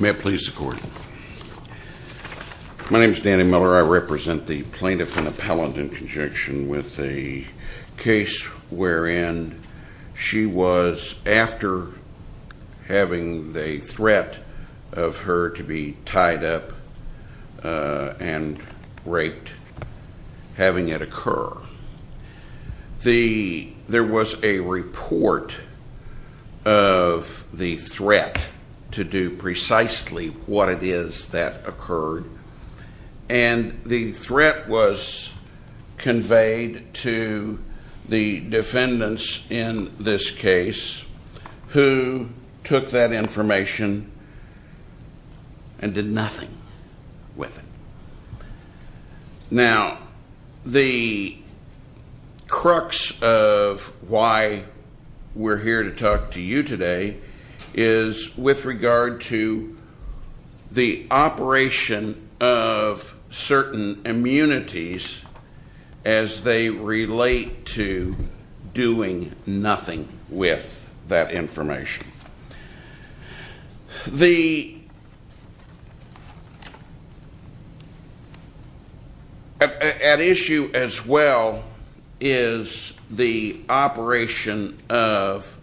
May I please the court? My name is Danny Miller. I represent the plaintiff and appellant in conjunction with the case wherein she was after having the threat of her to be tied up and raped having it occur. There was a report of the threat to do precisely what it is that occurred and the threat was who took that information and did nothing with it. Now the crux of why we're here to talk to you today is with regard to the operation of certain immunities as they relate to doing nothing with that information. At issue as well is the operation of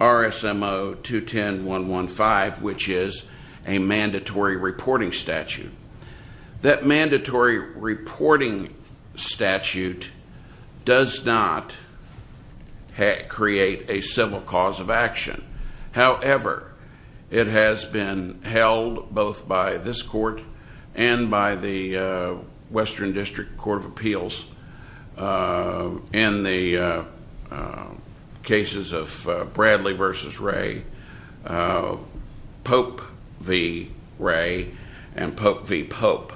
RSMO 210.115 which is a mandatory reporting statute. That mandatory reporting statute does not create a civil cause of action. However, it has been held both by this court and by the Western District Court of Appeals in the cases of Bradley v. Ray, Pope v. Ray, and Pope v. Pope,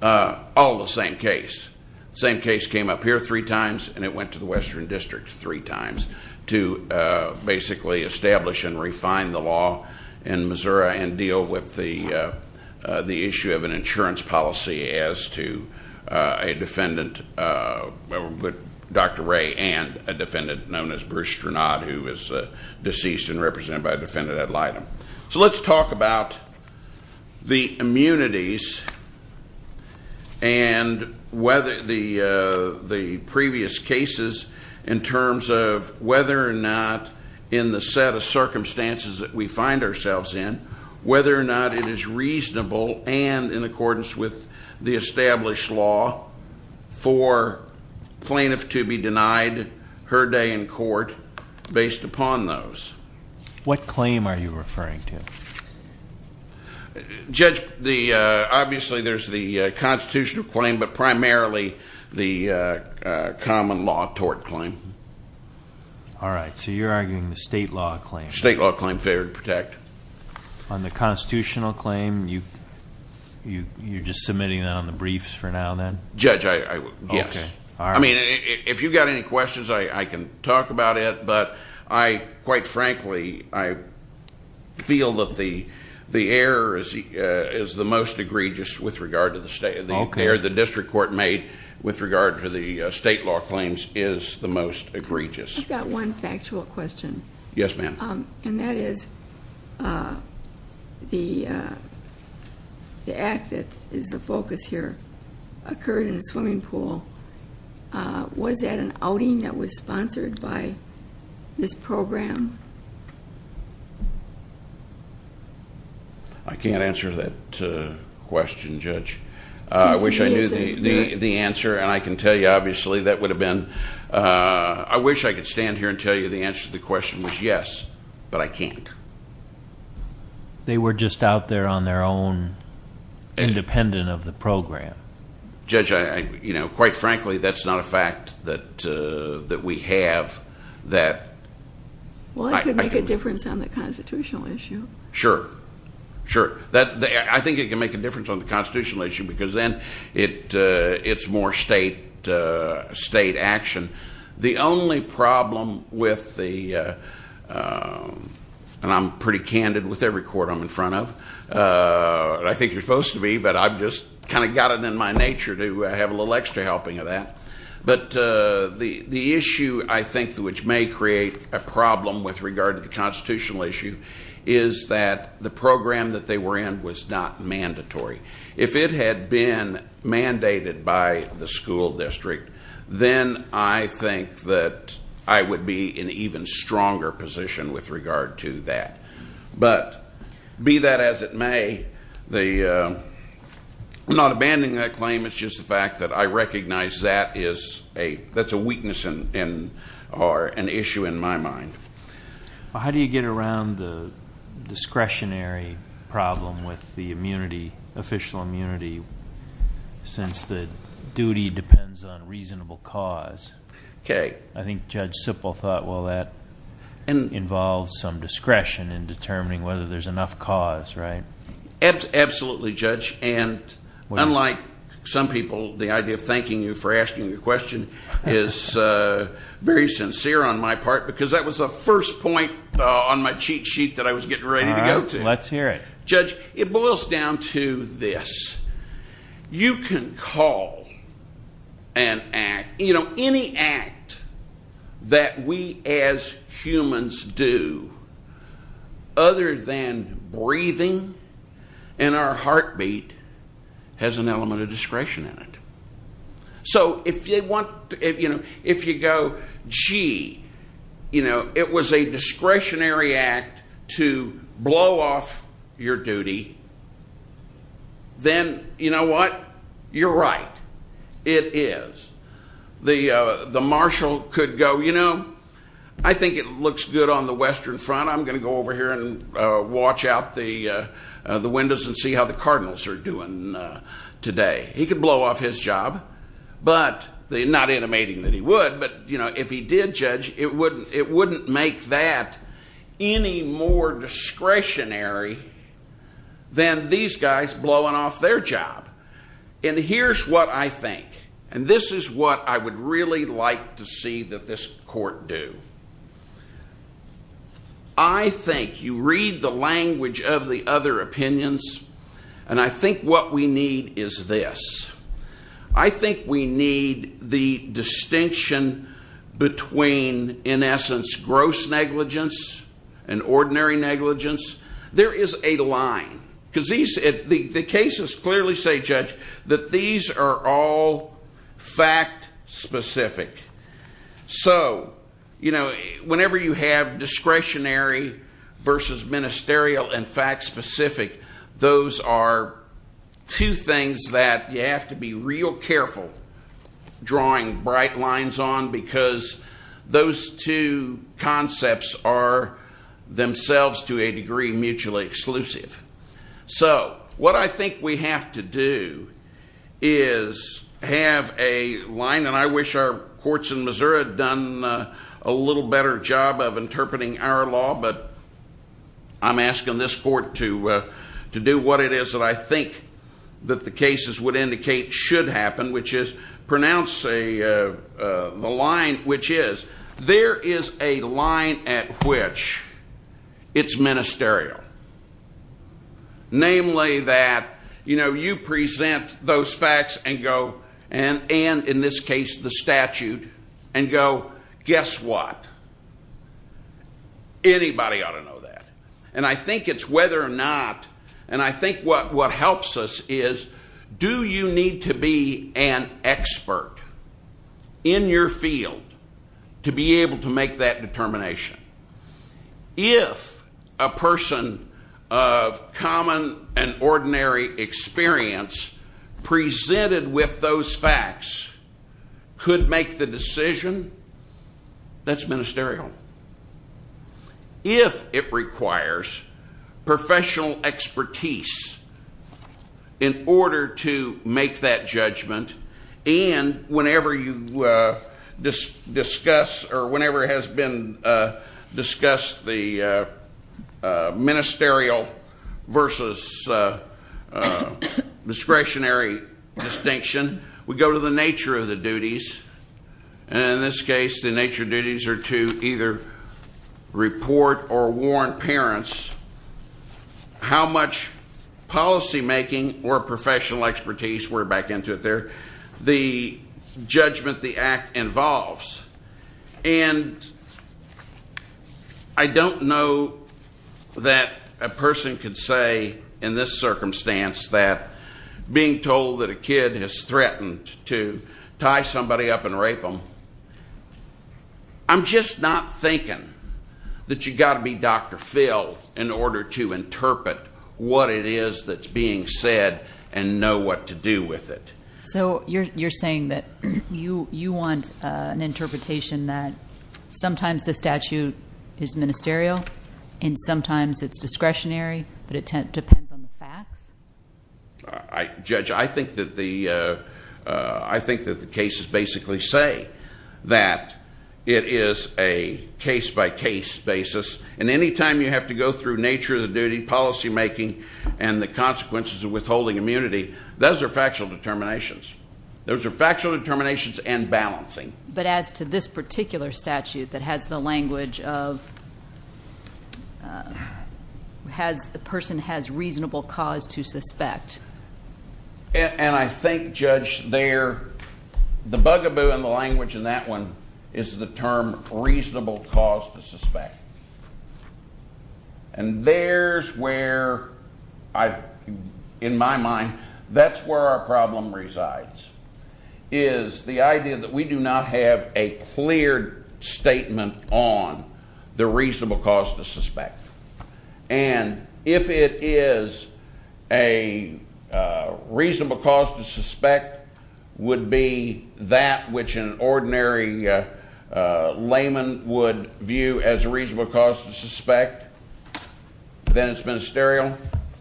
all the same case. The same case came up here three times and it went to the Western District three times to basically establish and refine the law in Missouri and deal with the issue of an defendant, Dr. Ray, and a defendant known as Bruce Strenod who was deceased and represented by a defendant at Lydom. So let's talk about the immunities and the previous cases in terms of whether or not in the set of circumstances that we find ourselves in, whether or not it is reasonable and in for plaintiff to be denied her day in court based upon those. What claim are you referring to? Judge, obviously there's the constitutional claim but primarily the common law tort claim. All right, so you're arguing the state law claim. State law claim, failure to protect. On the constitutional claim, you're just submitting that on the briefs for now then? Judge, yes. Okay. All right. I mean, if you've got any questions, I can talk about it but I, quite frankly, I feel that the error is the most egregious with regard to the state. Okay. The error the district court made with regard to the state law claims is the most egregious. I've got one factual question. Yes, ma'am. And that is the act that is the focus here occurred in a swimming pool. Was that an outing that was sponsored by this program? I can't answer that question, Judge. I wish I knew the answer and I can tell you obviously that would have been, I wish I could stand here and tell you the answer to the question was yes, but I can't. They were just out there on their own, independent of the program. Judge, quite frankly, that's not a fact that we have that... Well, it could make a difference on the constitutional issue. Sure. Sure. I think it can make a difference on the constitutional issue because then it's more state action. The only problem with the, and I'm pretty candid with every court I'm in front of, and I think you're supposed to be, but I've just kind of got it in my nature to have a little extra helping of that, but the issue I think which may create a problem with regard to the constitutional issue is that the program that they were in was not mandatory. If it had been mandated by the school district, then I think that I would be in an even stronger position with regard to that, but be that as it may, I'm not abandoning that claim. It's just the fact that I recognize that's a weakness or an issue in my mind. How do you get around the discretionary problem with the immunity, official immunity, since the duty depends on reasonable cause? I think Judge Sippel thought, well, that involves some discretion in determining whether there's enough cause, right? Absolutely, Judge, and unlike some people, the idea of thanking you for asking the question is very sincere on my part because that was the first point on my cheat sheet that I was getting ready to go to. All right. Let's hear it. Judge, it boils down to this. You can call and act. Any act that we as humans do other than breathing in our heartbeat has an element of discretion in it. So if you go, gee, it was a discretionary act to blow off your duty, then you know what? You're right. It is. The marshal could go, you know, I think it looks good on the western front. I'm going to go over here and watch out the windows and see how the cardinals are doing today. He could blow off his job, not intimating that he would, but if he did, Judge, it wouldn't make that any more discretionary than these guys blowing off their job. And here's what I think, and this is what I would really like to see that this court do. I think you read the language of the other opinions, and I think what we need is this. I think we need the distinction between, in essence, gross negligence and ordinary negligence. There is a line, because the cases clearly say, Judge, that these are all fact specific. So, you know, whenever you have discretionary versus ministerial and fact specific, those are two things that you have to be real careful drawing bright lines on, because those two concepts are themselves, to a degree, mutually exclusive. So what I think we have to do is have a line, and I wish our courts in Missouri had done a little better job of interpreting our law, but I'm asking this court to do what it is that I think that the cases would indicate should happen, which is pronounce the line There is a line at which it's ministerial, namely that, you know, you present those facts and go, and in this case, the statute, and go, guess what, anybody ought to know that. And I think it's whether or not, and I think what helps us is, do you need to be an expert in your field to be able to make that determination? If a person of common and ordinary experience presented with those facts could make the decision, that's ministerial. If it requires professional expertise in order to make that judgment, and whenever you discuss, or whenever it has been discussed, the ministerial versus discretionary distinction, then we go to the nature of the duties, and in this case, the nature of duties are to either report or warn parents how much policymaking or professional expertise, we're back into it there, the judgment the act involves. And I don't know that a person could say, in this circumstance, that being told that a kid has threatened to tie somebody up and rape them, I'm just not thinking that you've got to be Dr. Phil in order to interpret what it is that's being said and know what to do with it. So you're saying that you want an interpretation that sometimes the statute is ministerial, and sometimes it's discretionary, but it depends on the facts? Judge, I think that the cases basically say that it is a case-by-case basis, and any time you have to go through nature of the duty, policymaking, and the consequences of withholding immunity, those are factual determinations. Those are factual determinations and balancing. But as to this particular statute that has the language of the person has reasonable cause to suspect? And I think, Judge, the bugaboo in the language in that one is the term reasonable cause to suspect. And there's where, in my mind, that's where our problem resides, is the idea that we do not have a clear statement on the reasonable cause to suspect. And if it is a reasonable cause to suspect would be that which an ordinary layman would view as a reasonable cause to suspect, then it's ministerial.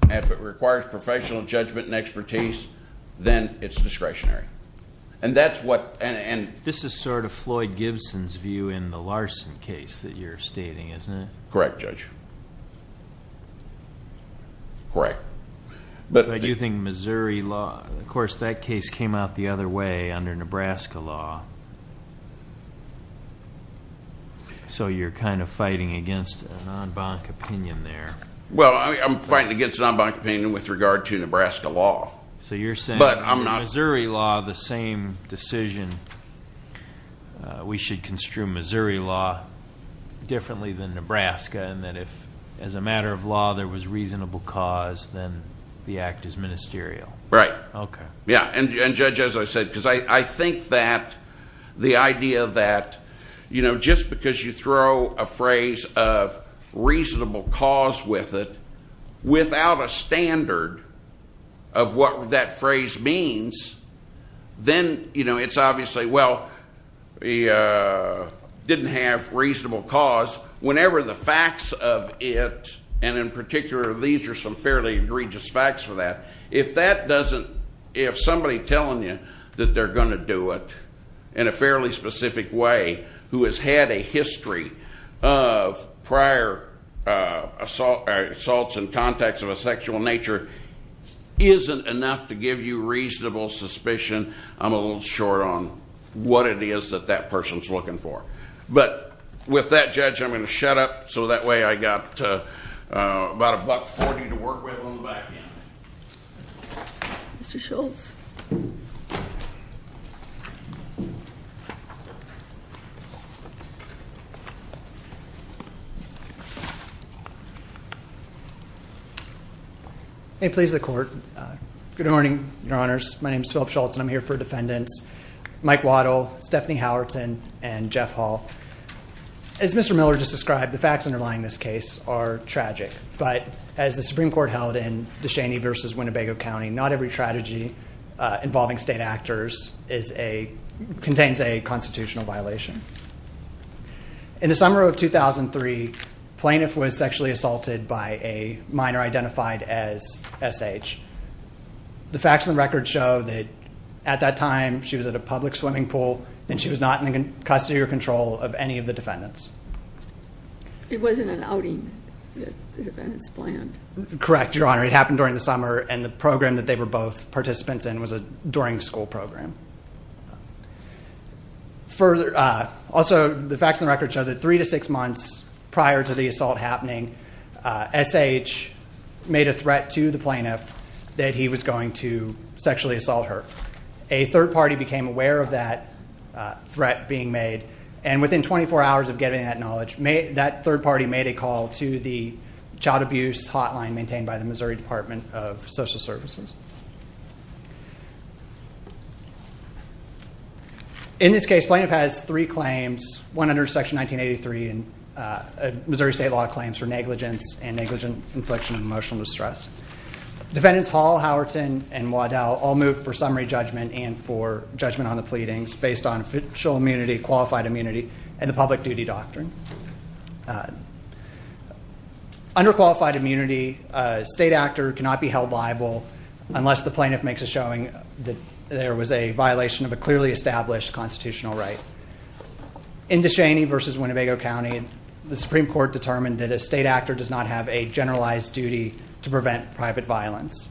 If it requires professional judgment and expertise, then it's discretionary. And that's what... This is sort of Floyd Gibson's view in the Larson case that you're stating, isn't it? Correct, Judge. Correct. But I do think Missouri law... of course, that case came out the other way under Nebraska law. So you're kind of fighting against a non-bonk opinion there. Well, I'm fighting against a non-bonk opinion with regard to Nebraska law. But I'm not... So you're saying in Missouri law, the same decision, we should construe Missouri law differently than Nebraska, and that if, as a matter of law, there was reasonable cause, then the act is ministerial. Right. Okay. Yeah. And, Judge, as I said, because I think that the idea that just because you throw a phrase of reasonable cause with it, without a standard of what that phrase means, then it's obviously, well, didn't have reasonable cause. Whenever the facts of it, and in particular, these are some fairly egregious facts for that, if that doesn't... if somebody telling you that they're going to do it in a fairly specific way, who has had a history of prior assaults and contacts of a sexual nature, isn't enough to give you reasonable suspicion, I'm a little short on what it is that that person's looking for. But with that, Judge, I'm going to shut up, so that way I've got about $1.40 to work with on the back end. Mr. Schultz. Thank you. May it please the Court. Good morning, Your Honors. My name is Philip Schultz, and I'm here for defendants Mike Waddell, Stephanie Howerton, and Jeff Hall. As Mr. Miller just described, the facts underlying this case are tragic. But as the Supreme Court held in De Cheney v. Winnebago County, not every strategy involving state actors is a... contains a constitutional violation. In the summer of 2003, plaintiff was sexually assaulted by a minor identified as S.H. The facts and records show that at that time, she was at a public swimming pool, and she was not in the custody or control of any of the defendants. It wasn't an outing that the defendants planned? Correct, Your Honor. It happened during the summer, and the program that they were both participants in was a during-school program. Further... Also, the facts and records show that three to six months prior to the assault happening, S.H. made a threat to the plaintiff that he was going to sexually assault her. A third party became aware of that threat being made, and within 24 hours of getting that knowledge, that third party made a call to the child abuse hotline maintained by the Missouri Department of Social Services. In this case, plaintiff has three claims, one under Section 1983, Missouri state law claims for negligence and negligent infliction of emotional distress. Defendants Hall, Howerton, and Waddell all moved for summary judgment and for judgment on the pleadings based on official immunity, qualified immunity, and the public duty doctrine. Under qualified immunity, a state actor cannot be held liable unless the plaintiff makes a showing that there was a violation of a clearly established constitutional right. In Descheny versus Winnebago County, the Supreme Court determined that a state actor does not have a generalized duty to prevent private violence.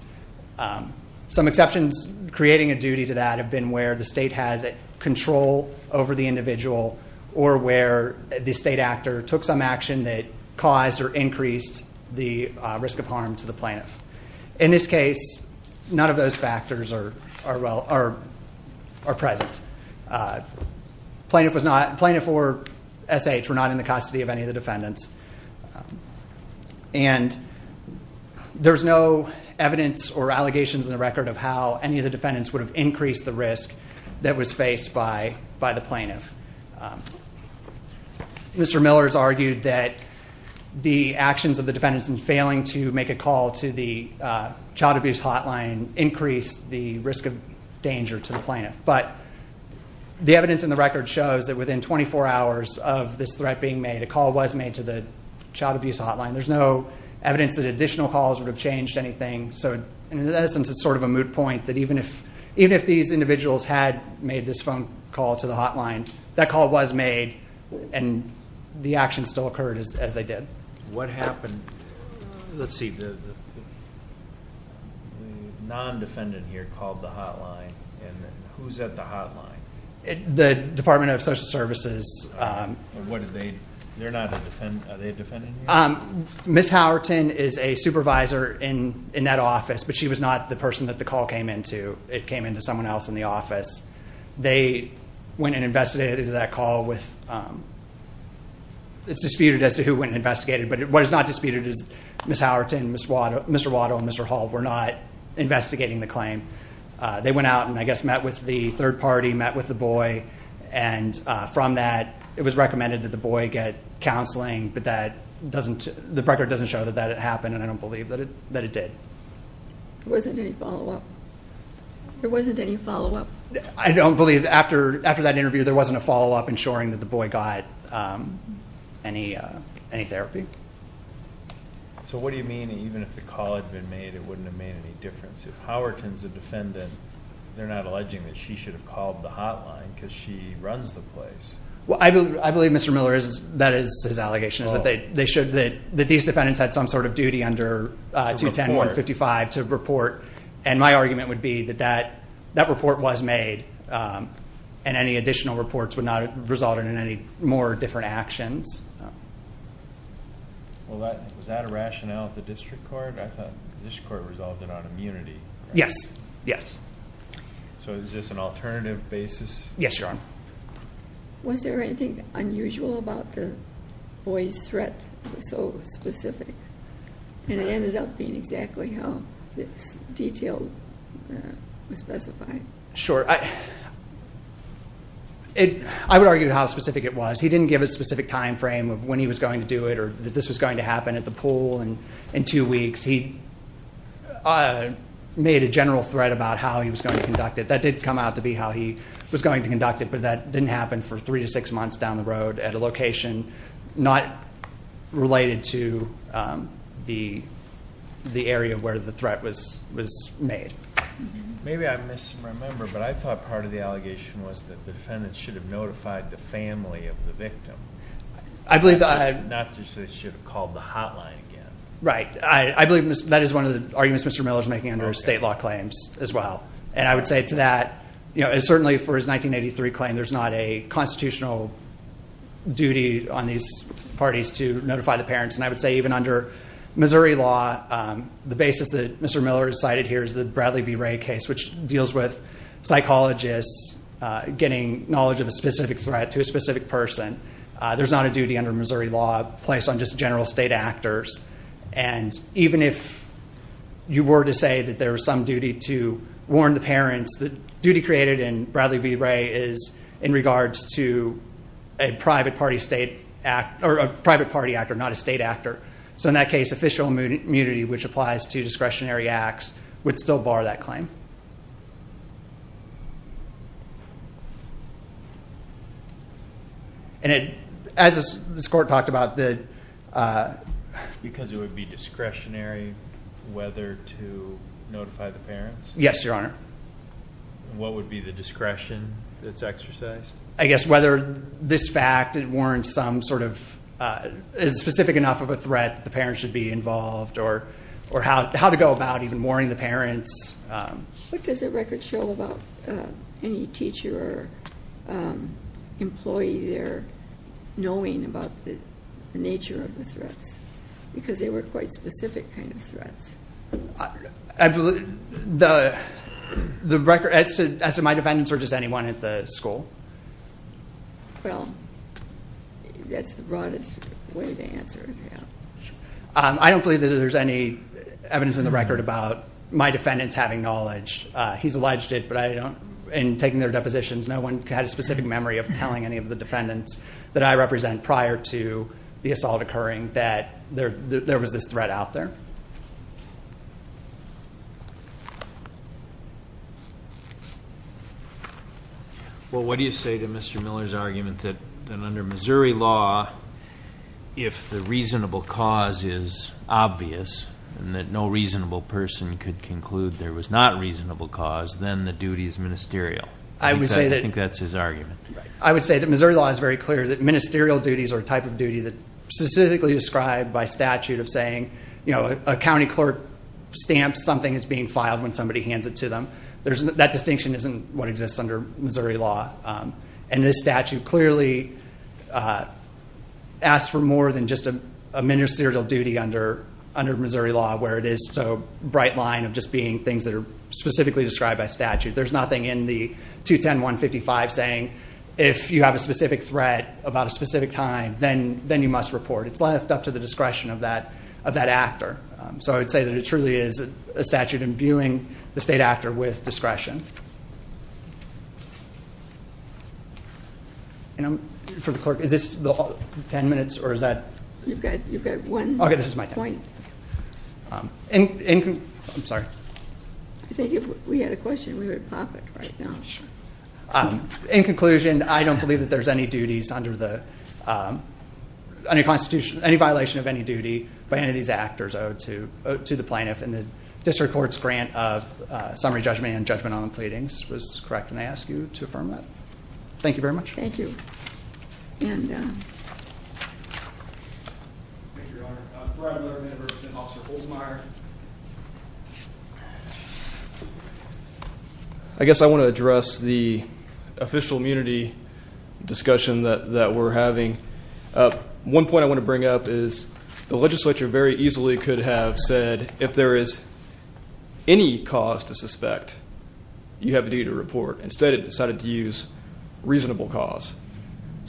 Some exceptions creating a duty to that have been where the state has control over the individual or where the state actor took some action that caused or increased the risk of harm to the plaintiff. In this case, none of those factors are present. Plaintiff or SH were not in the custody of any of the defendants. And there's no evidence or allegations in the record of how any of the defendants would have increased the risk that was faced by the plaintiff. Mr. Miller's argued that the actions of the defendants in failing to make a call to the child abuse hotline increased the risk of danger to the plaintiff. But the evidence in the record shows that within 24 hours of this threat being made, a call was made to the child abuse hotline. There's no evidence that additional calls would have changed anything. So, in essence, it's sort of a moot point that even if these individuals had made this phone call to the hotline, that call was made and the action still occurred as they did. What happened? Let's see. The non-defendant here called the hotline. And who's at the hotline? The Department of Social Services. They're not a defendant. Are they a defendant here? Ms. Howerton is a supervisor in that office, but she was not the person that the call came into. It came into someone else in the office. They went and investigated that call. It's disputed as to who went and investigated it, but what is not disputed is Ms. Howerton, Mr. Watto, and Mr. Hall were not investigating the claim. They went out and, I guess, met with the third party, met with the boy. And from that, it was recommended that the boy get counseling, but the record doesn't show that that had happened, and I don't believe that it did. There wasn't any follow-up? I don't believe, after that interview, there wasn't a follow-up ensuring that the boy got any therapy. So what do you mean, even if the call had been made, it wouldn't have made any difference? If Howerton's a defendant, they're not alleging that she should have called the hotline because she runs the place. Well, I believe Mr. Miller, that is his allegation, is that they showed that these defendants had some sort of duty under 210-155 to report. And my argument would be that that report was made, and any additional reports would not have resulted in any more different actions. Well, was that a rationale at the district court? I thought the district court resolved it on immunity. Yes, yes. So is this an alternative basis? Yes, Your Honor. Was there anything unusual about the boy's threat that was so specific? And it ended up being exactly how this detail was specified. Sure. I would argue how specific it was. He didn't give a specific time frame of when he was going to do it or that this was going to happen at the pool in two weeks. He made a general threat about how he was going to conduct it. That did come out to be how he was going to conduct it, but that didn't happen for three to six months down the road at a location not related to the area where the threat was made. Maybe I'm misremembering, but I thought part of the allegation was that the defendants should have notified the family of the victim. Not just that they should have called the hotline again. Right. I believe that is one of the arguments Mr. Miller is making under state law claims as well. And I would say to that, certainly for his 1983 claim, there's not a constitutional duty on these parties to notify the parents. And I would say even under Missouri law, the basis that Mr. Miller has cited here is the Bradley B. Ray case, which deals with psychologists getting knowledge of a specific threat to a specific person. There's not a duty under Missouri law placed on just general state actors. And even if you were to say that there was some duty to warn the parents, the duty created in Bradley B. Ray is in regards to a private party actor, not a state actor. So in that case, official immunity, which applies to discretionary acts, would still bar that claim. And as this court talked about, because it would be discretionary whether to notify the parents? Yes, Your Honor. What would be the discretion that's exercised? I guess whether this fact warrants some sort of specific enough of a threat that the parents should be involved or how to go about even warning the parents. What does the record show about any teacher or employee there knowing about the nature of the threats? Because they were quite specific kind of threats. As to my defendants or just anyone at the school? Well, that's the broadest way to answer it, yeah. I don't believe that there's any evidence in the record about my defendants having knowledge. He's alleged it, but in taking their depositions, no one had a specific memory of telling any of the defendants that I represent prior to the assault occurring that there was this threat out there. Well, what do you say to Mr. Miller's argument that under Missouri law, if the reasonable cause is obvious and that no reasonable person could conclude there was not a reasonable cause, then the duty is ministerial? I would say that. I think that's his argument. I would say that Missouri law is very clear that ministerial duties are a type of duty that's specifically described by statute of saying a county clerk stamps something that's being filed when somebody hands it to them. That distinction isn't what exists under Missouri law. And this statute clearly asks for more than just a ministerial duty under Missouri law where it is so bright line of just being things that are specifically described by statute. There's nothing in the 210-155 saying if you have a specific threat about a specific time, then you must report. It's left up to the discretion of that actor. So I would say that it truly is a statute imbuing the state actor with discretion. For the clerk, is this the 10 minutes or is that? You've got one point. Okay, this is my 10. I'm sorry. I think if we had a question, we would pop it right now. In conclusion, I don't believe that there's any violation of any duty by any of these actors owed to the plaintiff in the district court's grant of summary judgment and judgment on the pleadings was correct, and I ask you to affirm that. Thank you. Thank you, Your Honor. For our other members, we have Officer Holtmeyer. I guess I want to address the official immunity discussion that we're having. One point I want to bring up is the legislature very easily could have said, if there is any cause to suspect, you have a duty to report. Instead, it decided to use reasonable cause.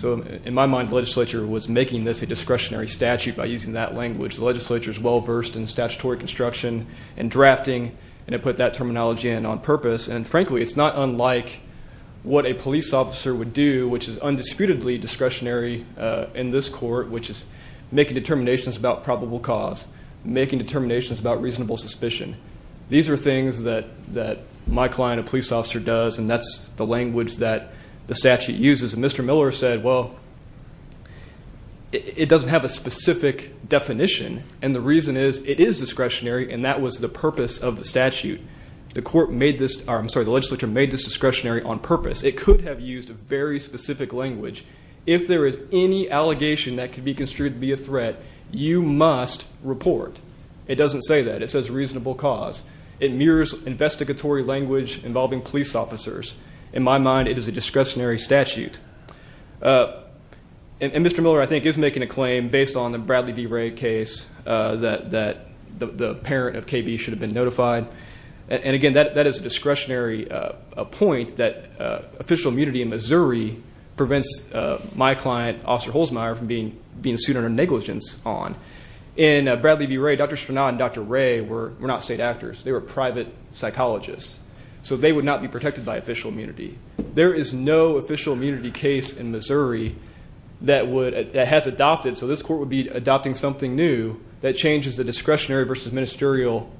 In my mind, the legislature was making this a discretionary statute by using that language. The legislature is well-versed in statutory construction and drafting, and it put that terminology in on purpose. And frankly, it's not unlike what a police officer would do, which is undisputedly discretionary in this court, which is making determinations about probable cause, making determinations about reasonable suspicion. These are things that my client, a police officer, does, and that's the language that the statute uses. And Mr. Miller said, well, it doesn't have a specific definition, and the reason is it is discretionary, and that was the purpose of the statute. The legislature made this discretionary on purpose. It could have used a very specific language. If there is any allegation that could be construed to be a threat, you must report. It doesn't say that. It says reasonable cause. It mirrors investigatory language involving police officers. In my mind, it is a discretionary statute. And Mr. Miller, I think, is making a claim based on the Bradley B. Ray case that the parent of KB should have been notified. And again, that is a discretionary point that official immunity in Missouri prevents my client, Officer Holzmeier, from being sued under negligence on. In Bradley B. Ray, Dr. Srinath and Dr. Ray were not state actors. They were private psychologists. So they would not be protected by official immunity. There is no official immunity case in Missouri that has adopted, so this court would be adopting something new that changes the discretionary versus ministerial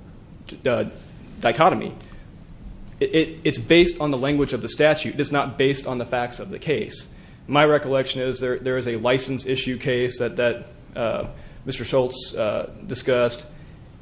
dichotomy. It's based on the language of the statute. It is not based on the facts of the case. My recollection is there is a license issue case that Mr. Schultz discussed.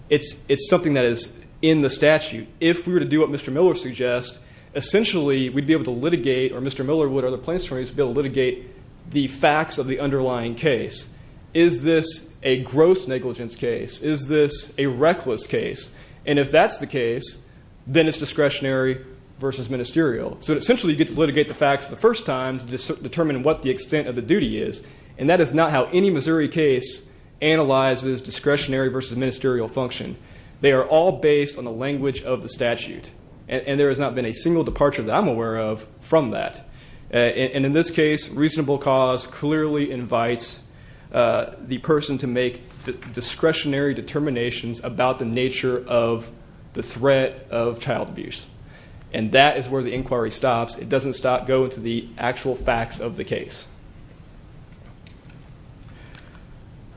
It's something that is in the statute. If we were to do what Mr. Miller suggests, essentially we'd be able to litigate, or Mr. Miller would or the plaintiffs attorneys would be able to litigate, the facts of the underlying case. Is this a gross negligence case? Is this a reckless case? And if that's the case, then it's discretionary versus ministerial. So essentially you get to litigate the facts the first time to determine what the extent of the duty is, and that is not how any Missouri case analyzes discretionary versus ministerial function. They are all based on the language of the statute, and there has not been a single departure that I'm aware of from that. In this case, reasonable cause clearly invites the person to make discretionary determinations about the nature of the threat of child abuse, and that is where the inquiry stops. It doesn't go into the actual facts of the case.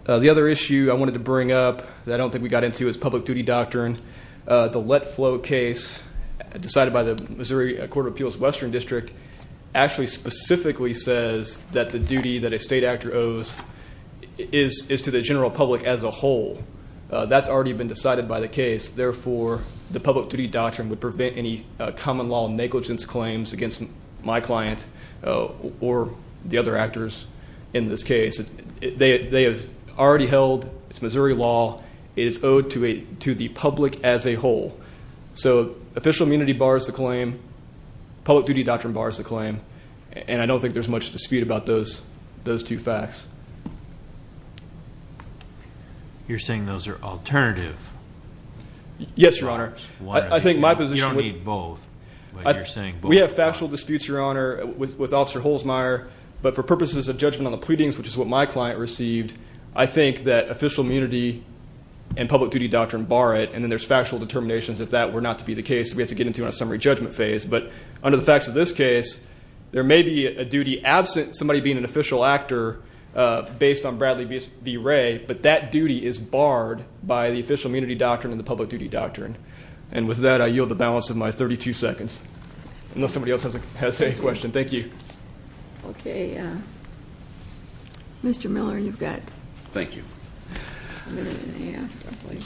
The other issue I wanted to bring up that I don't think we got into is public duty doctrine. The let flow case decided by the Missouri Court of Appeals Western District actually specifically says that the duty that a state actor owes is to the general public as a whole. That's already been decided by the case. Therefore, the public duty doctrine would prevent any common law negligence claims against my client or the other actors in this case. They have already held it's Missouri law. It is owed to the public as a whole. So official immunity bars the claim. Public duty doctrine bars the claim. And I don't think there's much dispute about those two facts. You're saying those are alternative. Yes, Your Honor. You don't need both, but you're saying both. We have factual disputes, Your Honor, with Officer Holzmeier, but for purposes of judgment on the pleadings, which is what my client received, I think that official immunity and public duty doctrine bar it, and then there's factual determinations if that were not to be the case that we have to get into on a summary judgment phase. But under the facts of this case, there may be a duty absent somebody being an official actor based on Bradley v. Wray, but that duty is barred by the official immunity doctrine and the public duty doctrine. And with that, I yield the balance of my 32 seconds, unless somebody else has a question. Thank you. Okay. Mr. Miller, you've got a minute and a half, hopefully.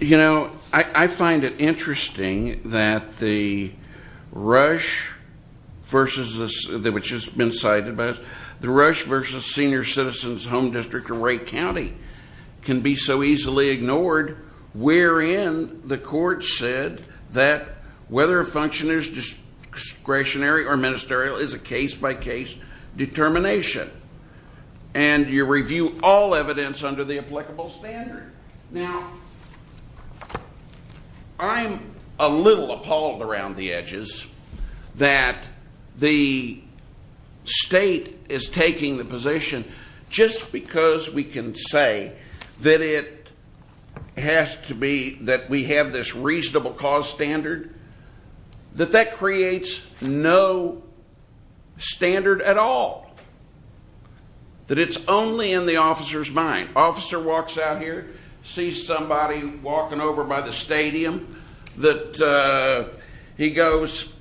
You know, I find it interesting that the Rush versus this, which has been cited, the Rush versus Senior Citizens Home District in Wray County can be so easily ignored, wherein the court said that whether a function is discretionary or ministerial is a case-by-case determination, and you review all evidence under the applicable standard. Now, I'm a little appalled around the edges that the state is taking the position, just because we can say that it has to be that we have this reasonable cause standard, that that creates no standard at all, that it's only in the officer's mind. An officer walks out here, sees somebody walking over by the stadium, that he goes,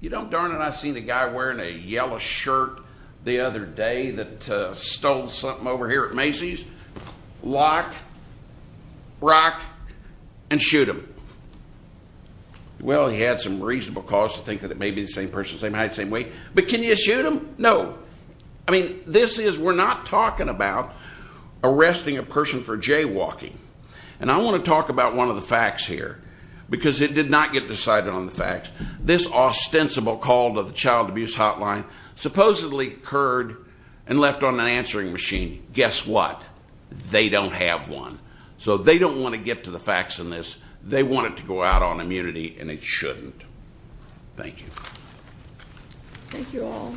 you know, darn it, I seen a guy wearing a yellow shirt the other day that stole something over here at Macy's. Lock, rock, and shoot him. Well, he had some reasonable cause to think that it may be the same person, same height, same weight. But can you shoot him? No. I mean, this is, we're not talking about arresting a person for jaywalking. And I want to talk about one of the facts here, because it did not get decided on the facts. This ostensible call to the child abuse hotline supposedly occurred and left on an answering machine. Guess what? They don't have one. So they don't want to get to the facts in this. They want it to go out on immunity, and it shouldn't. Thank you. Thank you all.